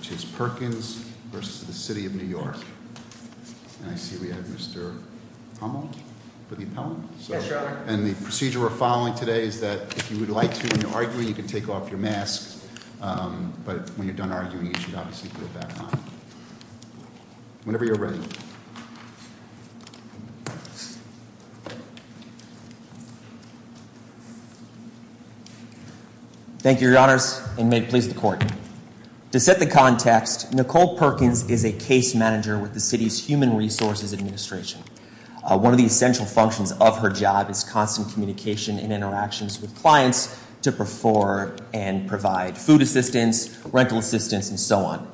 And I see we have Mr. Pommel for the appellant. And the procedure we're following today is that if you would like to, when you're arguing, you can take off your mask. But when you're done arguing, you should obviously put it back on. Whenever you're ready. Thank you, your honors, and may it please the court. To set the context, Nicole Perkins is a case manager with the city's Human Resources Administration. One of the essential functions of her job is constant communication and interactions with clients to perform and provide food assistance, rental assistance, and so on.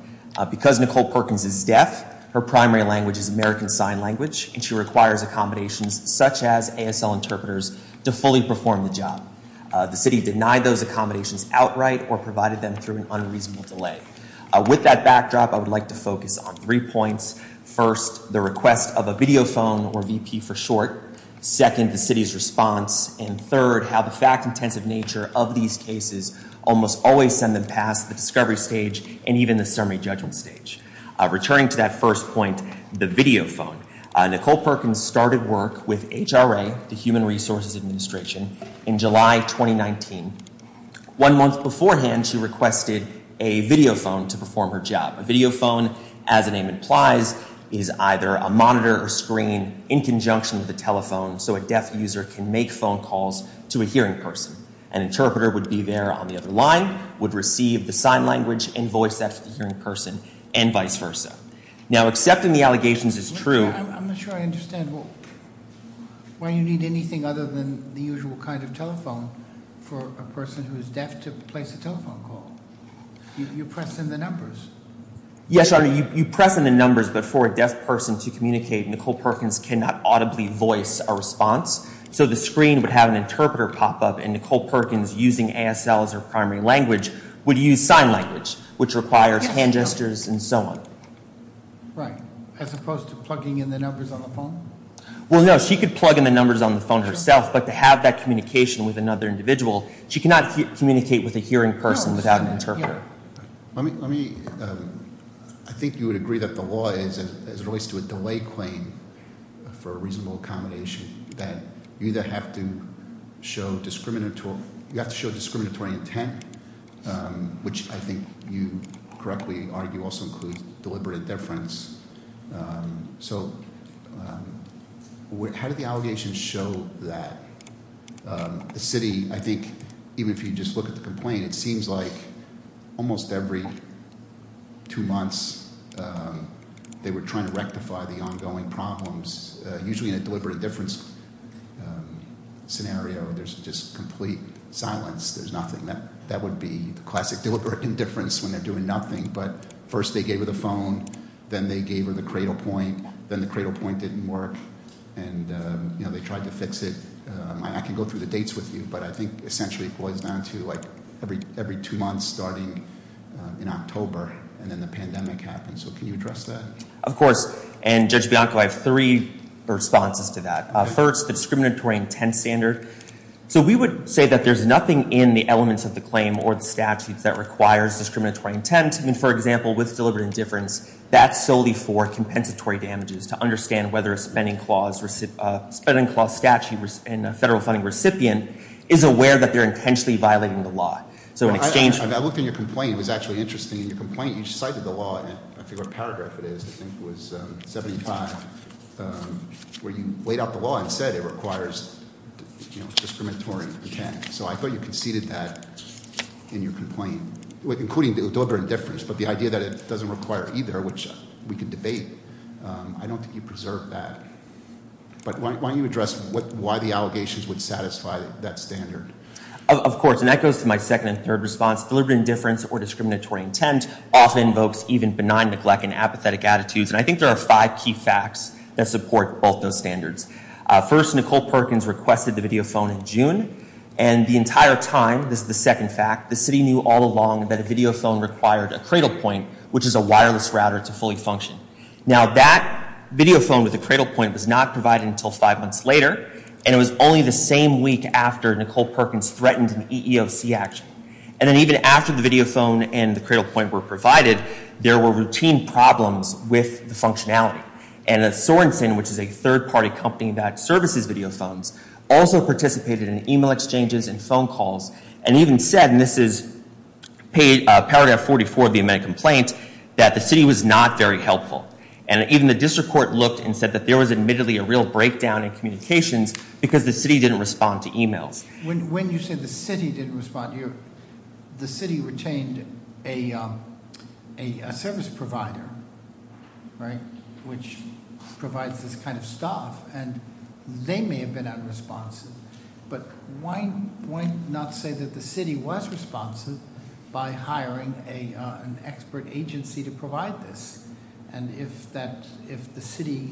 Because Nicole Perkins is deaf, her primary language is American Sign Language, and she requires accommodations such as ASL interpreters to fully perform the job. The city denied those accommodations outright or provided them through an unreasonable delay. With that backdrop, I would like to focus on three points. First, the request of a video phone, or VP for short. Second, the city's response. And third, how the fact intensive nature of these cases almost always send them past the discovery stage and even the summary judgment stage. Returning to that first point, the video phone. Nicole Perkins started work with HRA, the Human Resources Administration, in July 2019. One month beforehand, she requested a video phone to perform her job. A video phone, as the name implies, is either a monitor or screen in conjunction with a telephone, so a deaf user can make phone calls to a hearing person. An interpreter would be there on the other line, would receive the sign language and voice that to the hearing person, and vice versa. Now, accepting the allegations is true. I'm not sure I understand why you need anything other than the usual kind of telephone for a person who is deaf to place a telephone call, you press in the numbers. Yes, you press in the numbers, but for a deaf person to communicate, Nicole Perkins cannot audibly voice a response. So the screen would have an interpreter pop up, and Nicole Perkins, using ASL as her primary language, would use sign language, which requires hand gestures and so on. Right, as opposed to plugging in the numbers on the phone? Well, no, she could plug in the numbers on the phone herself, but to have that communication with another individual, she cannot communicate with a hearing person without an interpreter. Let me, I think you would agree that the law is, as it relates to a delay claim for a reasonable accommodation, that you either have to show discriminatory intent, which I think you correctly argue also includes deliberate indifference. So how did the allegations show that the city, I think even if you just look at the complaint, it seems like almost every two months, they were trying to rectify the ongoing problems, usually in a deliberate indifference scenario. There's just complete silence. There's nothing, that would be the classic deliberate indifference when they're doing nothing, but first they gave her the phone, then they gave her the cradle point, then the cradle point didn't work, and they tried to fix it. I can go through the dates with you, but I think essentially it boils down to every two months starting in October, and then the pandemic happened. So can you address that? Of course, and Judge Bianco, I have three responses to that. First, the discriminatory intent standard. So we would say that there's nothing in the elements of the claim or the statutes that requires discriminatory intent. I mean, for example, with deliberate indifference, that's solely for compensatory damages to understand whether a spending clause statute and a federal funding recipient is aware that they're intentionally violating the law. So in exchange- I looked at your complaint, it was actually interesting. In your complaint, you cited the law, I forget what paragraph it is, I think it was 75, where you laid out the law and said it requires discriminatory intent. So I thought you conceded that in your complaint, including deliberate indifference, but the idea that it doesn't require either, which we can debate, I don't think you preserved that. But why don't you address why the allegations would satisfy that standard? Of course, and that goes to my second and third response. Deliberate indifference or discriminatory intent often invokes even benign neglect and apathetic attitudes. And I think there are five key facts that support both those standards. First, Nicole Perkins requested the video phone in June. And the entire time, this is the second fact, the city knew all along that a video phone required a cradle point, which is a wireless router to fully function. Now that video phone with a cradle point was not provided until five months later. And it was only the same week after Nicole Perkins threatened an EEOC action. And then even after the video phone and the cradle point were provided, there were routine problems with the functionality. And Sorensen, which is a third party company that services video phones, also participated in email exchanges and phone calls. And even said, and this is paragraph 44 of the amended complaint, that the city was not very helpful. And even the district court looked and said that there was admittedly a real breakdown in communications because the city didn't respond to emails. When you say the city didn't respond, the city retained a service provider, right, which provides this kind of stuff, and they may have been unresponsive. But why not say that the city was responsive by hiring an expert agency to provide this? And if the city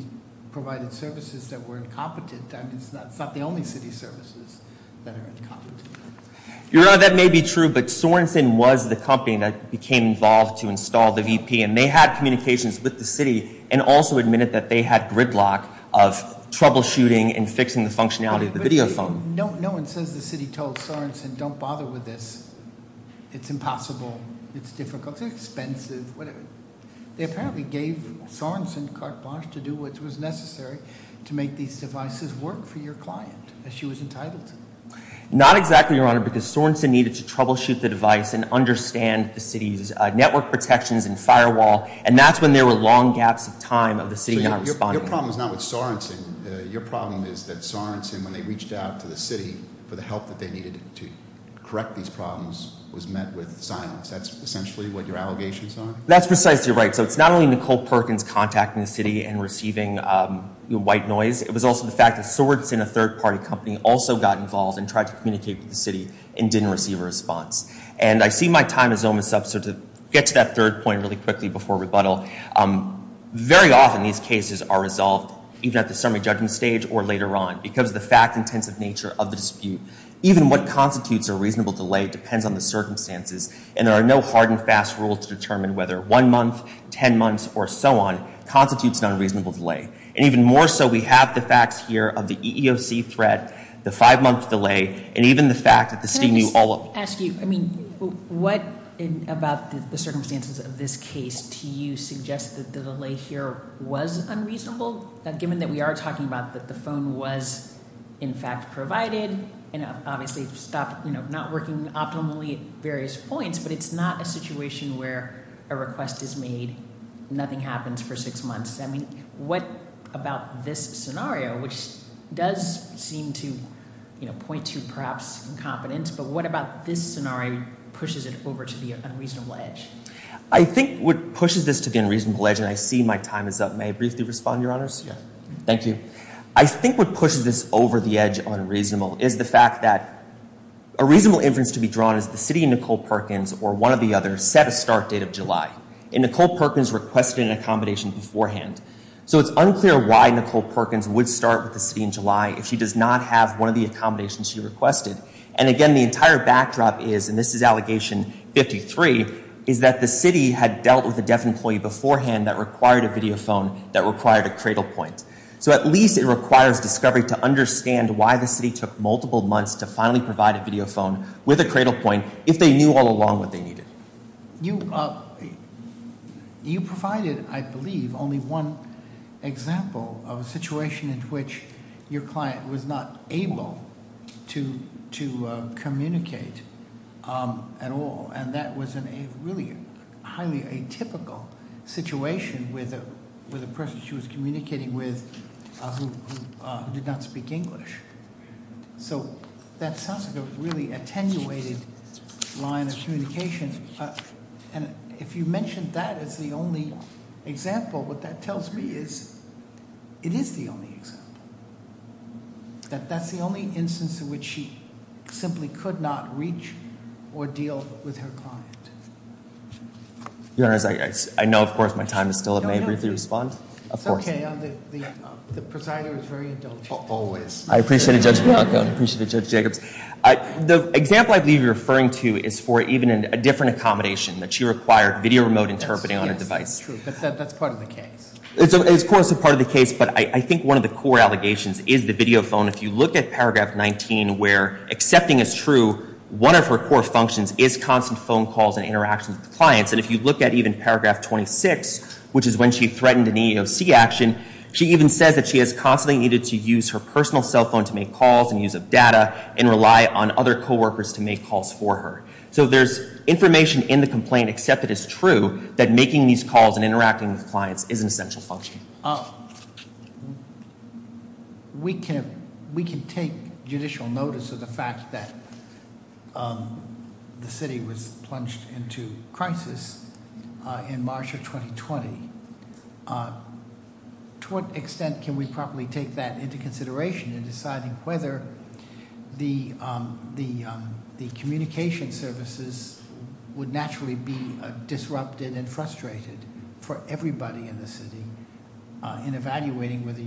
provided services that were incompetent, that means that's not the only city services that are incompetent. You're right, that may be true, but Sorensen was the company that became involved to install the VP. And they had communications with the city, and also admitted that they had gridlock of troubleshooting and fixing the functionality of the video phone. No one says the city told Sorensen, don't bother with this, it's impossible, it's difficult, it's expensive, whatever. They apparently gave Sorensen carte blanche to do what was necessary to make these devices work for your client, as she was entitled to. Not exactly, Your Honor, because Sorensen needed to troubleshoot the device and understand the city's network protections and firewall. And that's when there were long gaps of time of the city not responding. Your problem is not with Sorensen. Your problem is that Sorensen, when they reached out to the city for the help that they needed to correct these problems, was met with silence. That's essentially what your allegations are? That's precisely right. So it's not only Nicole Perkins contacting the city and receiving white noise. It was also the fact that Sorensen, a third party company, also got involved and tried to communicate with the city and didn't receive a response. And I see my time is almost up, so to get to that third point really quickly before rebuttal. Very often these cases are resolved, even at the summary judgment stage or later on, because of the fact-intensive nature of the dispute. Even what constitutes a reasonable delay depends on the circumstances. And there are no hard and fast rules to determine whether one month, ten months, or so on constitutes an unreasonable delay. And even more so, we have the facts here of the EEOC threat, the five month delay, and even the fact that the city knew all of- Can I just ask you, I mean, what about the circumstances of this case do you suggest that the delay here was unreasonable? Given that we are talking about that the phone was in fact provided and obviously not working optimally at various points, but it's not a situation where a request is made, nothing happens for six months. I mean, what about this scenario, which does seem to point to perhaps incompetence, but what about this scenario pushes it over to the unreasonable edge? I think what pushes this to the unreasonable edge, and I see my time is up, may I briefly respond, your honors? Yeah, thank you. I think what pushes this over the edge unreasonable is the fact that a reasonable inference to be drawn is the city, Nicole Perkins, or one of the others, set a start date of July. And Nicole Perkins requested an accommodation beforehand. So it's unclear why Nicole Perkins would start with the city in July if she does not have one of the accommodations she requested. And again, the entire backdrop is, and this is allegation 53, is that the city had dealt with a deaf employee beforehand that required a video phone that required a cradle point. So at least it requires discovery to understand why the city took multiple months to finally provide a video phone with a cradle point if they knew all along what they needed. You provided, I believe, only one example of a situation in which your client was not able to communicate at all. And that was in a really highly atypical situation with a person she was communicating with who did not speak English. So that sounds like a really attenuated line of communication. And if you mentioned that as the only example, what that tells me is, it is the only example. That that's the only instance in which she simply could not reach or deal with her client. Your Honor, I know of course my time is still up. May I briefly respond? Of course. It's okay. The presider is very indulgent. Always. I appreciate it, Judge Monaco, and I appreciate it, Judge Jacobs. The example I believe you're referring to is for even a different accommodation, that she required video remote interpreting on a device. That's true, but that's part of the case. It's of course a part of the case, but I think one of the core allegations is the video phone. If you look at paragraph 19 where accepting is true, one of her core functions is constant phone calls and interactions with clients. And if you look at even paragraph 26, which is when she threatened an EEOC action, she even says that she has constantly needed to use her personal cell phone to make calls and use of data and rely on other co-workers to make calls for her. So there's information in the complaint, except it is true, that making these calls and interacting with clients is an essential function. We can take judicial notice of the fact that the city was plunged into crisis in March of 2020. To what extent can we properly take that into consideration in deciding whether the communication services would naturally be disrupted and frustrated for everybody in the city in evaluating whether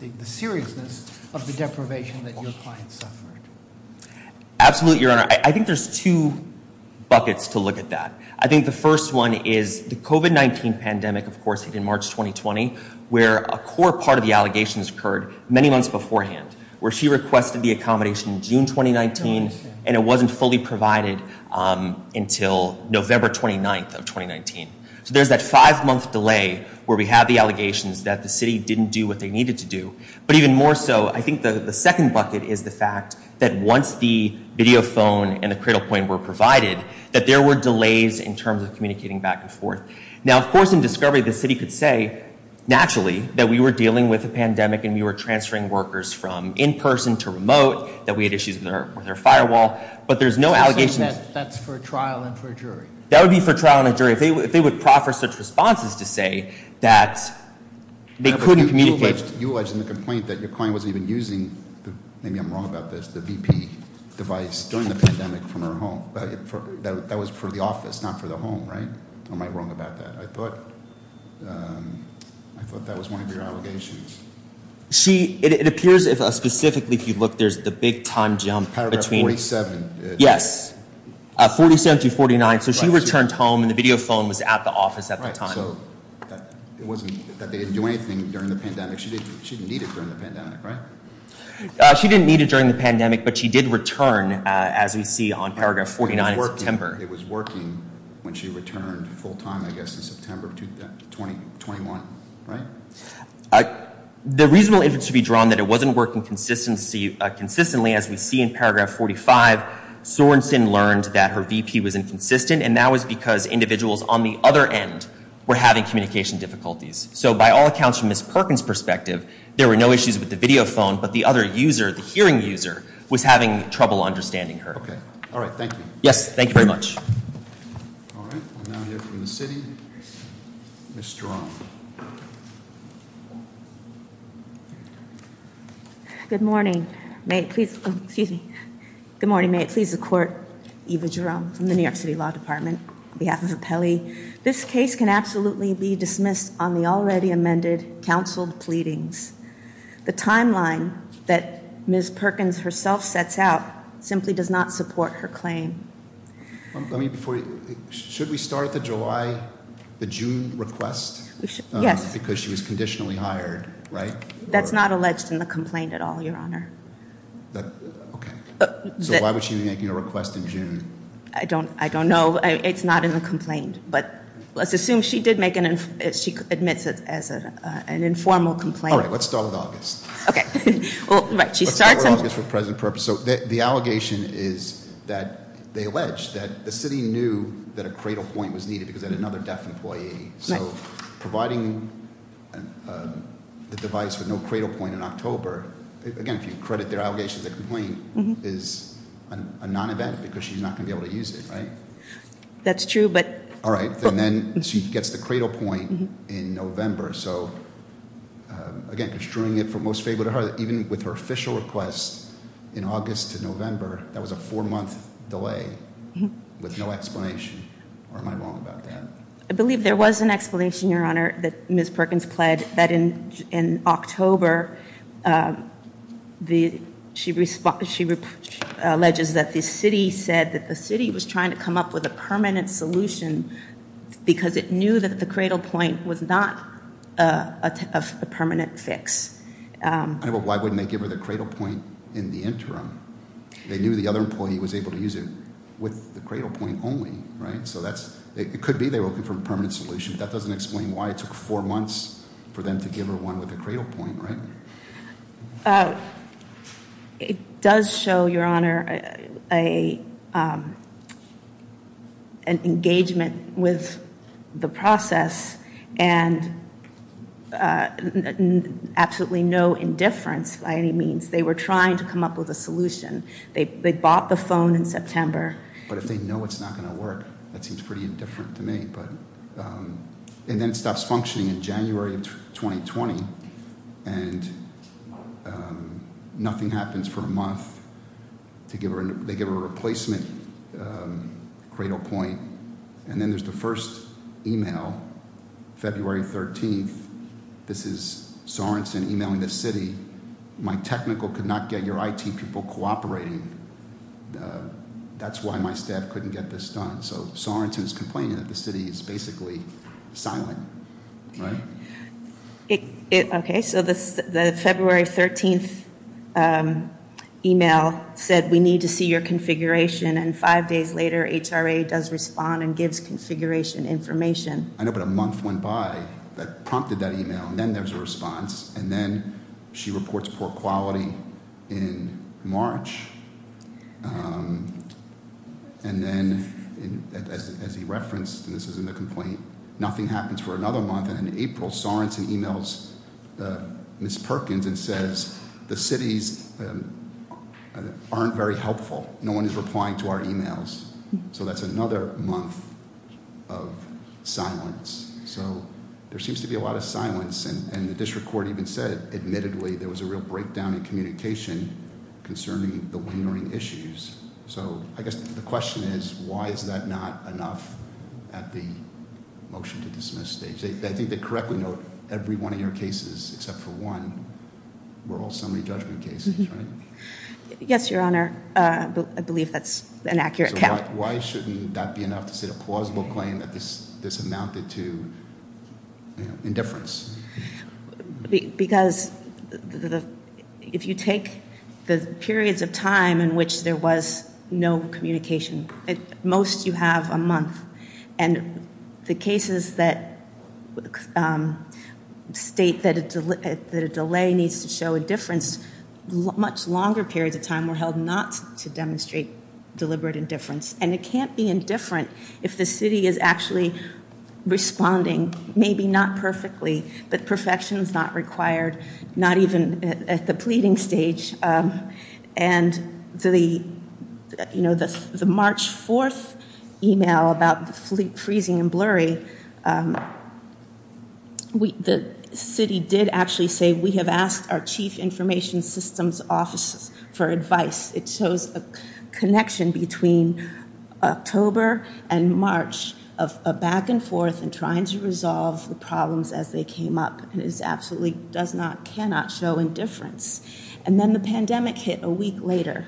the seriousness of the deprivation that your clients suffered. Absolutely, your honor. I think there's two buckets to look at that. I think the first one is the COVID-19 pandemic, of course, in March 2020, where a core part of the allegations occurred many months beforehand, where she requested the accommodation in June 2019, and it wasn't fully provided until November 29th of 2019. So there's that five month delay where we have the allegations that the city didn't do what they needed to do. But even more so, I think the second bucket is the fact that once the video phone and the cradle point were provided, that there were delays in terms of communicating back and forth. Now, of course, in discovery, the city could say, naturally, that we were dealing with a pandemic and we were transferring workers from in-person to remote, that we had issues with our firewall. But there's no allegations- That's for a trial and for a jury. That would be for trial and a jury. If they would proffer such responses to say that they couldn't communicate- You alleged in the complaint that your client wasn't even using, maybe I'm wrong about this, the VP device during the pandemic from her home, that was for the office, not for the home, right? Am I wrong about that? I thought that was one of your allegations. It appears, specifically, if you look, there's the big time jump between- Paragraph 47. Yes, 47 to 49, so she returned home and the video phone was at the office at the time. Right, so it wasn't that they didn't do anything during the pandemic, she didn't need it during the pandemic, right? She didn't need it during the pandemic, but she did return, as we see on paragraph 49 in September. It was working when she returned full time, I guess, in September of 2021, right? The reasonable evidence to be drawn that it wasn't working consistently, as we see in paragraph 45. Sorenson learned that her VP was inconsistent, and that was because individuals on the other end were having communication difficulties. So by all accounts, from Ms. Perkins' perspective, there were no issues with the video phone, but the other user, the hearing user, was having trouble understanding her. Okay, all right, thank you. Yes, thank you very much. All right, we'll now hear from the city, Ms. Jerome. Good morning, may it please, excuse me, good morning, may it please the court, Eva Jerome from the New York City Law Department. On behalf of Apelli, this case can absolutely be dismissed on the already amended counseled pleadings. The timeline that Ms. Perkins herself sets out simply does not support her claim. Let me before you, should we start the July, the June request? Yes. Because she was conditionally hired, right? That's not alleged in the complaint at all, your honor. Okay, so why would she be making a request in June? I don't know, it's not in the complaint, but let's assume she admits it as an informal complaint. All right, let's start with August. Okay, well, right, she starts- Let's start with August for present purpose. So the allegation is that they allege that the city knew that a cradle point was needed because they had another deaf employee. So providing the device with no cradle point in October, again, if you credit their allegation, the complaint is a non-event because she's not going to be able to use it, right? That's true, but- All right, and then she gets the cradle point in November. So again, construing it for most favorable to her, even with her official request in August to November, that was a four-month delay with no explanation, or am I wrong about that? I believe there was an explanation, your honor, that Ms. Perkins pled that in October, she alleges that the city said that the city was trying to come up with a permanent solution because it knew that the cradle point was not a permanent fix. I know, but why wouldn't they give her the cradle point in the interim? They knew the other employee was able to use it with the cradle point only, right? So that's, it could be they were looking for a permanent solution. That doesn't explain why it took four months for them to give her one with a cradle point, right? It does show, your honor, an engagement with the process and absolutely no indifference by any means. They were trying to come up with a solution. They bought the phone in September. But if they know it's not going to work, that seems pretty indifferent to me, but- I was functioning in January of 2020, and nothing happens for a month. They give her a replacement cradle point. And then there's the first email, February 13th. This is Sorenson emailing the city. My technical could not get your IT people cooperating. That's why my staff couldn't get this done. So Sorenson is complaining that the city is basically silent, right? Okay, so the February 13th email said we need to see your configuration. And five days later, HRA does respond and gives configuration information. I know, but a month went by that prompted that email. And then there's a response. And then she reports poor quality in March. And then, as he referenced, and this is in the complaint, nothing happens for another month. And in April, Sorenson emails Ms. Perkins and says, the cities aren't very helpful. No one is replying to our emails. So that's another month of silence. So there seems to be a lot of silence. And the district court even said, admittedly, there was a real breakdown in communication concerning the lingering issues, so I guess the question is, why is that not enough at the motion to dismiss stage? I think they correctly note every one of your cases except for one were all summary judgment cases, right? Yes, your honor, I believe that's an accurate count. Why shouldn't that be enough to set a plausible claim that this amounted to indifference? Because if you take the periods of time in which there was no communication, most you have a month, and the cases that state that a delay needs to show indifference, much longer periods of time were held not to demonstrate deliberate indifference. And it can't be indifferent if the city is actually responding, maybe not perfectly, but perfection is not required, not even at the pleading stage. And the March 4th email about the freezing and blurry, the city did actually say, we have asked our chief information systems office for advice. It shows a connection between October and March of a back and forth and trying to resolve the problems as they came up. And it absolutely does not, cannot show indifference. And then the pandemic hit a week later.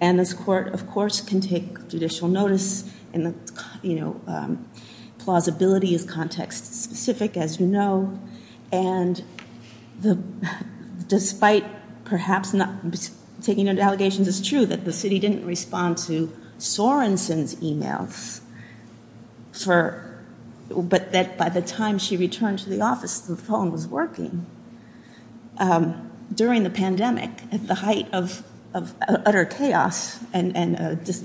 And this court, of course, can take judicial notice in the, you know, plausibility is context specific, as you know. And the, despite perhaps not taking into allegations, it's true that the city didn't respond to Sorenson's emails for, but that by the time she returned to the office, the phone was working. During the pandemic, at the height of utter chaos and,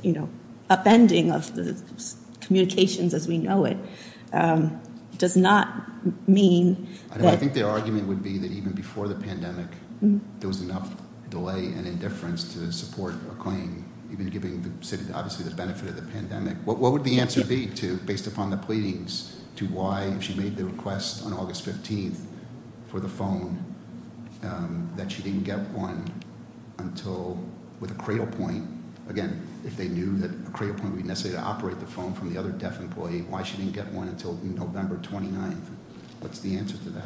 you know, upending of the communications as we know it, does not mean that. I think their argument would be that even before the pandemic, there was enough delay and indifference to support a claim, even giving the city, obviously the benefit of the pandemic. What would the answer be to, based upon the pleadings, to why she made the request on August 15th for the phone, that she didn't get one until with a cradle point. Again, if they knew that a cradle point would be necessary to operate the phone from the other deaf employee, why she didn't get one until November 29th. What's the answer to that?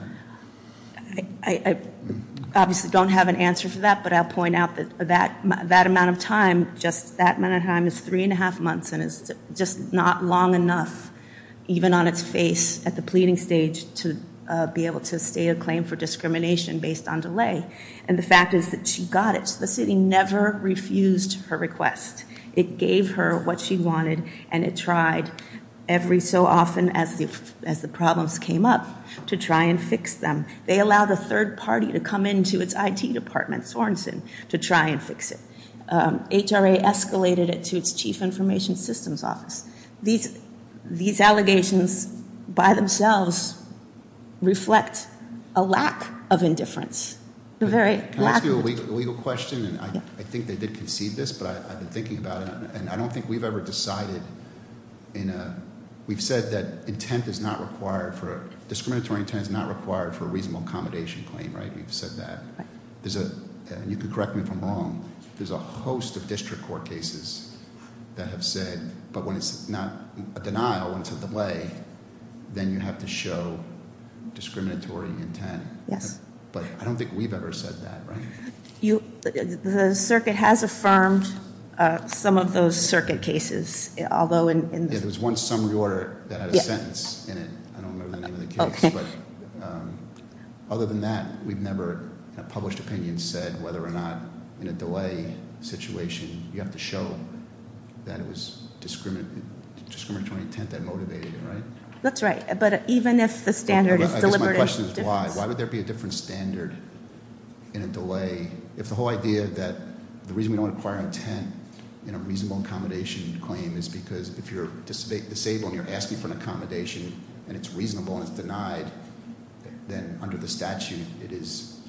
I obviously don't have an answer for that, but I'll point out that that amount of time, just that amount of time is three and a half months and it's just not long enough, even on its face at the pleading stage, to be able to stay a claim for discrimination based on delay. And the fact is that she got it. The city never refused her request. It gave her what she wanted and it tried every so often as the problems came up to try and fix them. They allowed a third party to come into its IT department, Sorenson, to try and fix it. HRA escalated it to its chief information systems office. These allegations by themselves reflect a lack of indifference. A very lack of- Can I ask you a legal question? And I think they did concede this, but I've been thinking about it and I don't think we've ever decided in a, we've said that intent is not required for, discriminatory intent is not required for a reasonable accommodation claim, right? We've said that. There's a, and you can correct me if I'm wrong, there's a host of district court cases that have said, but when it's not a denial until the way, then you have to show discriminatory intent. Yes. But I don't think we've ever said that, right? The circuit has affirmed some of those circuit cases, although in- Yeah, there was one summary order that had a sentence in it. I don't remember the name of the case. But other than that, we've never, in a published opinion, said whether or not in a delay situation, you have to show that it was discriminatory intent that motivated it, right? That's right. But even if the standard is deliberate- I guess my question is why. Why would there be a different standard in a delay? If the whole idea that the reason we don't require intent in a reasonable accommodation claim is because if you're disabled and you're asking for an accommodation and it's reasonable and it's denied, then under the statute, it is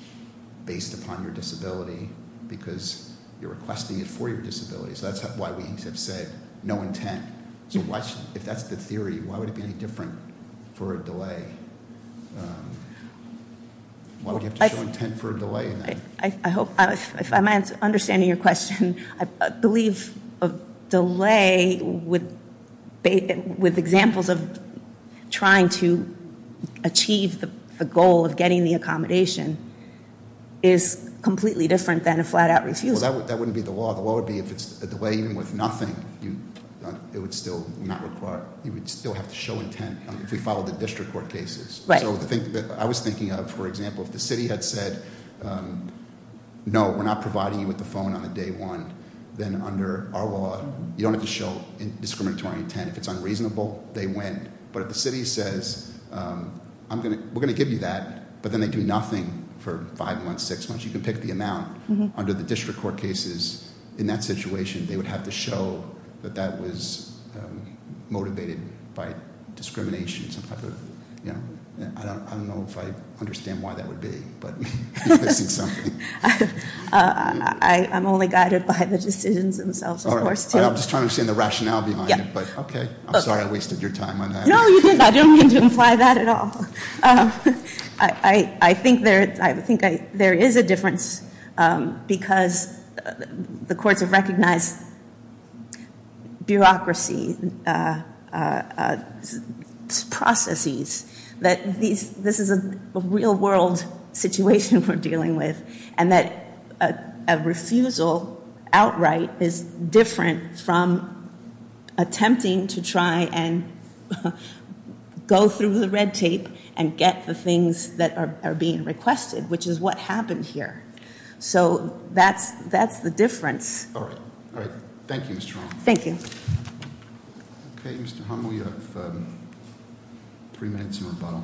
based upon your disability because you're requesting it for your disability. So that's why we have said no intent. So if that's the theory, why would it be any different for a delay? Why would you have to show intent for a delay in that? I hope, if I'm understanding your question, I believe a delay with examples of trying to achieve the goal of getting the accommodation is completely different than a flat out refusal. Well, that wouldn't be the law. The law would be if it's a delay even with nothing, you would still have to show intent if we followed the district court cases. So I was thinking of, for example, if the city had said, no, we're not providing you with the phone on the day one, then under our law, you don't have to show discriminatory intent. If it's unreasonable, they win. But if the city says, we're going to give you that, but then they do nothing for five months, six months. You can pick the amount under the district court cases. In that situation, they would have to show that that was motivated by discrimination, some type of. I don't know if I understand why that would be, but you're missing something. I'm only guided by the decisions themselves, of course, too. All right, I'm just trying to understand the rationale behind it, but okay. I'm sorry I wasted your time on that. No, you didn't. I didn't mean to imply that at all. I think there is a difference because the courts have recognized bureaucracy's processes. That this is a real world situation we're dealing with. And that a refusal outright is different from attempting to try and go through the red tape and get the things that are being requested, which is what happened here. So that's the difference. All right, all right. Thank you, Ms. Truong. Thank you. Okay, Mr. Humley, you have three minutes in rebuttal.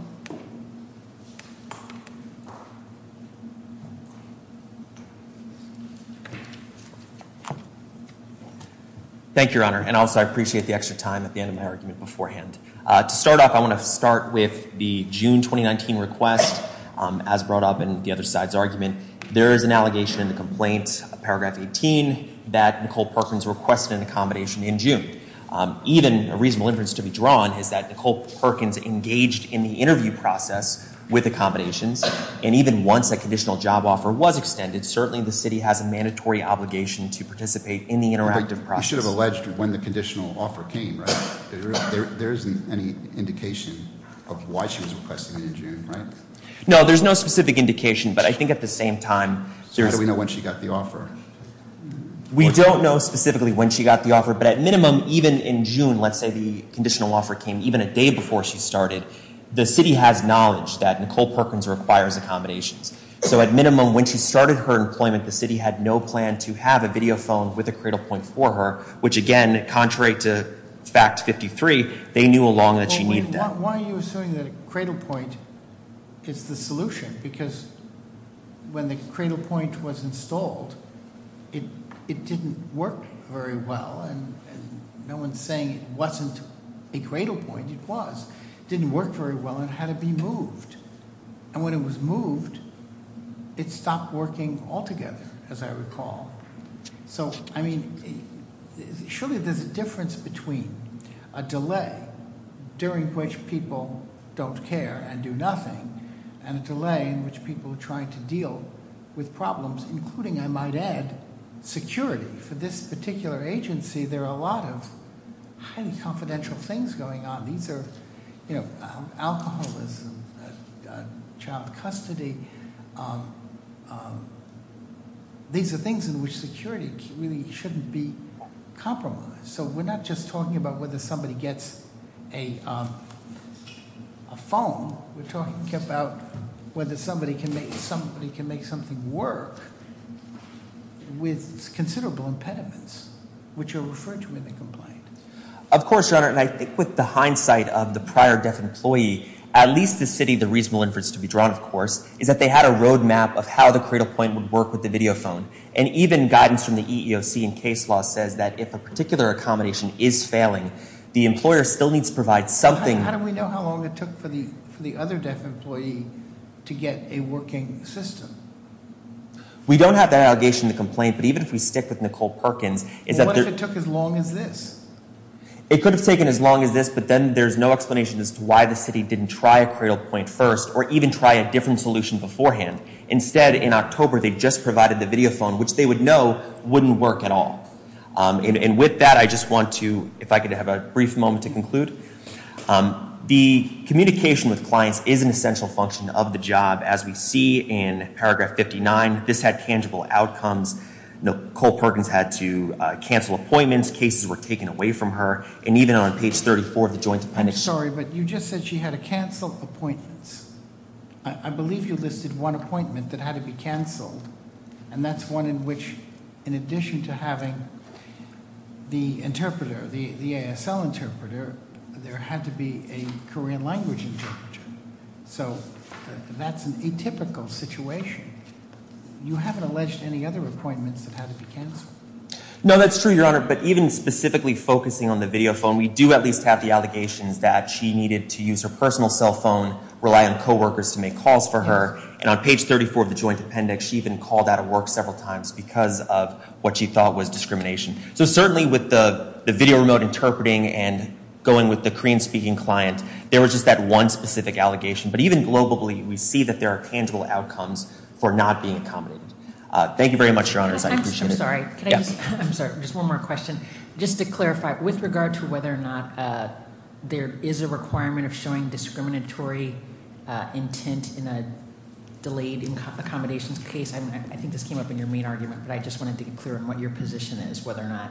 Thank you, Your Honor. And also, I appreciate the extra time at the end of my argument beforehand. To start off, I want to start with the June 2019 request, as brought up in the other side's argument. There is an allegation in the complaint, paragraph 18, that Nicole Perkins requested an accommodation in June. Even a reasonable inference to be drawn is that Nicole Perkins engaged in the interview process with accommodations. And even once a conditional job offer was extended, certainly the city has a mandatory obligation to participate in the interactive process. You should have alleged when the conditional offer came, right? There isn't any indication of why she was requesting it in June, right? No, there's no specific indication, but I think at the same time- So how do we know when she got the offer? We don't know specifically when she got the offer, but at minimum, even in June, let's say the conditional offer came even a day before she started. The city has knowledge that Nicole Perkins requires accommodations. So at minimum, when she started her employment, the city had no plan to have a video phone with a cradle point for her. Which again, contrary to fact 53, they knew along that she needed that. Why are you assuming that a cradle point is the solution? Because when the cradle point was installed, it didn't work very well. And no one's saying it wasn't a cradle point, it was. Didn't work very well and had to be moved. And when it was moved, it stopped working altogether, as I recall. So, I mean, surely there's a difference between a delay during which people don't care and do nothing. And a delay in which people are trying to deal with problems, including, I might add, security. For this particular agency, there are a lot of highly confidential things going on. These are alcoholism, child custody. These are things in which security really shouldn't be compromised. So we're not just talking about whether somebody gets a phone. We're talking about whether somebody can make something work with considerable impediments, which are referred to in the complaint. Of course, Your Honor, and I think with the hindsight of the prior deaf employee, at least the city, the reasonable inference to be drawn, of course, is that they had a road map of how the cradle point would work with the video phone. And even guidance from the EEOC and case law says that if a particular accommodation is failing, the employer still needs to provide something. How do we know how long it took for the other deaf employee to get a working system? We don't have that allegation in the complaint, but even if we stick with Nicole Perkins, is that- It could have taken as long as this, but then there's no explanation as to why the city didn't try a cradle point first, or even try a different solution beforehand. Instead, in October, they just provided the video phone, which they would know wouldn't work at all. And with that, I just want to, if I could have a brief moment to conclude. The communication with clients is an essential function of the job. As we see in paragraph 59, this had tangible outcomes. Nicole Perkins had to cancel appointments, cases were taken away from her, and even on page 34 of the joint appendix- Sorry, but you just said she had to cancel appointments. I believe you listed one appointment that had to be canceled, and that's one in which, in addition to having the interpreter, the ASL interpreter, there had to be a Korean language interpreter, so that's an atypical situation. You haven't alleged any other appointments that had to be canceled. No, that's true, Your Honor, but even specifically focusing on the video phone, we do at least have the allegations that she needed to use her personal cell phone, rely on co-workers to make calls for her. And on page 34 of the joint appendix, she even called out of work several times because of what she thought was discrimination. So certainly with the video remote interpreting and going with the Korean speaking client, there was just that one specific allegation. But even globally, we see that there are tangible outcomes for not being accommodated. Thank you very much, Your Honor, I appreciate it. I'm sorry, just one more question. Just to clarify, with regard to whether or not there is a requirement of showing discriminatory intent in a delayed accommodations case, I think this came up in your main argument, but I just wanted to get clear on what your position is, whether or not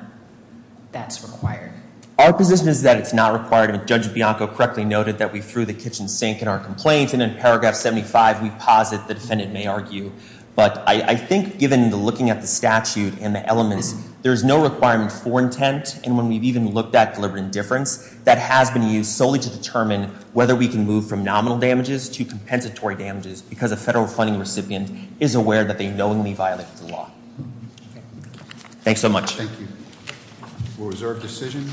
that's required. Our position is that it's not required, and Judge Bianco correctly noted that we threw the kitchen sink in our complaint, and in paragraph 75, we posit the defendant may argue. But I think given the looking at the statute and the elements, there's no requirement for intent. And when we've even looked at deliberate indifference, that has been used solely to determine whether we can move from nominal damages to compensatory damages, because a federal funding recipient is aware that they knowingly violated the law. Thanks so much. Thank you. We'll reserve decision.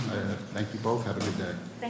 Thank you both, have a good day. Thank you.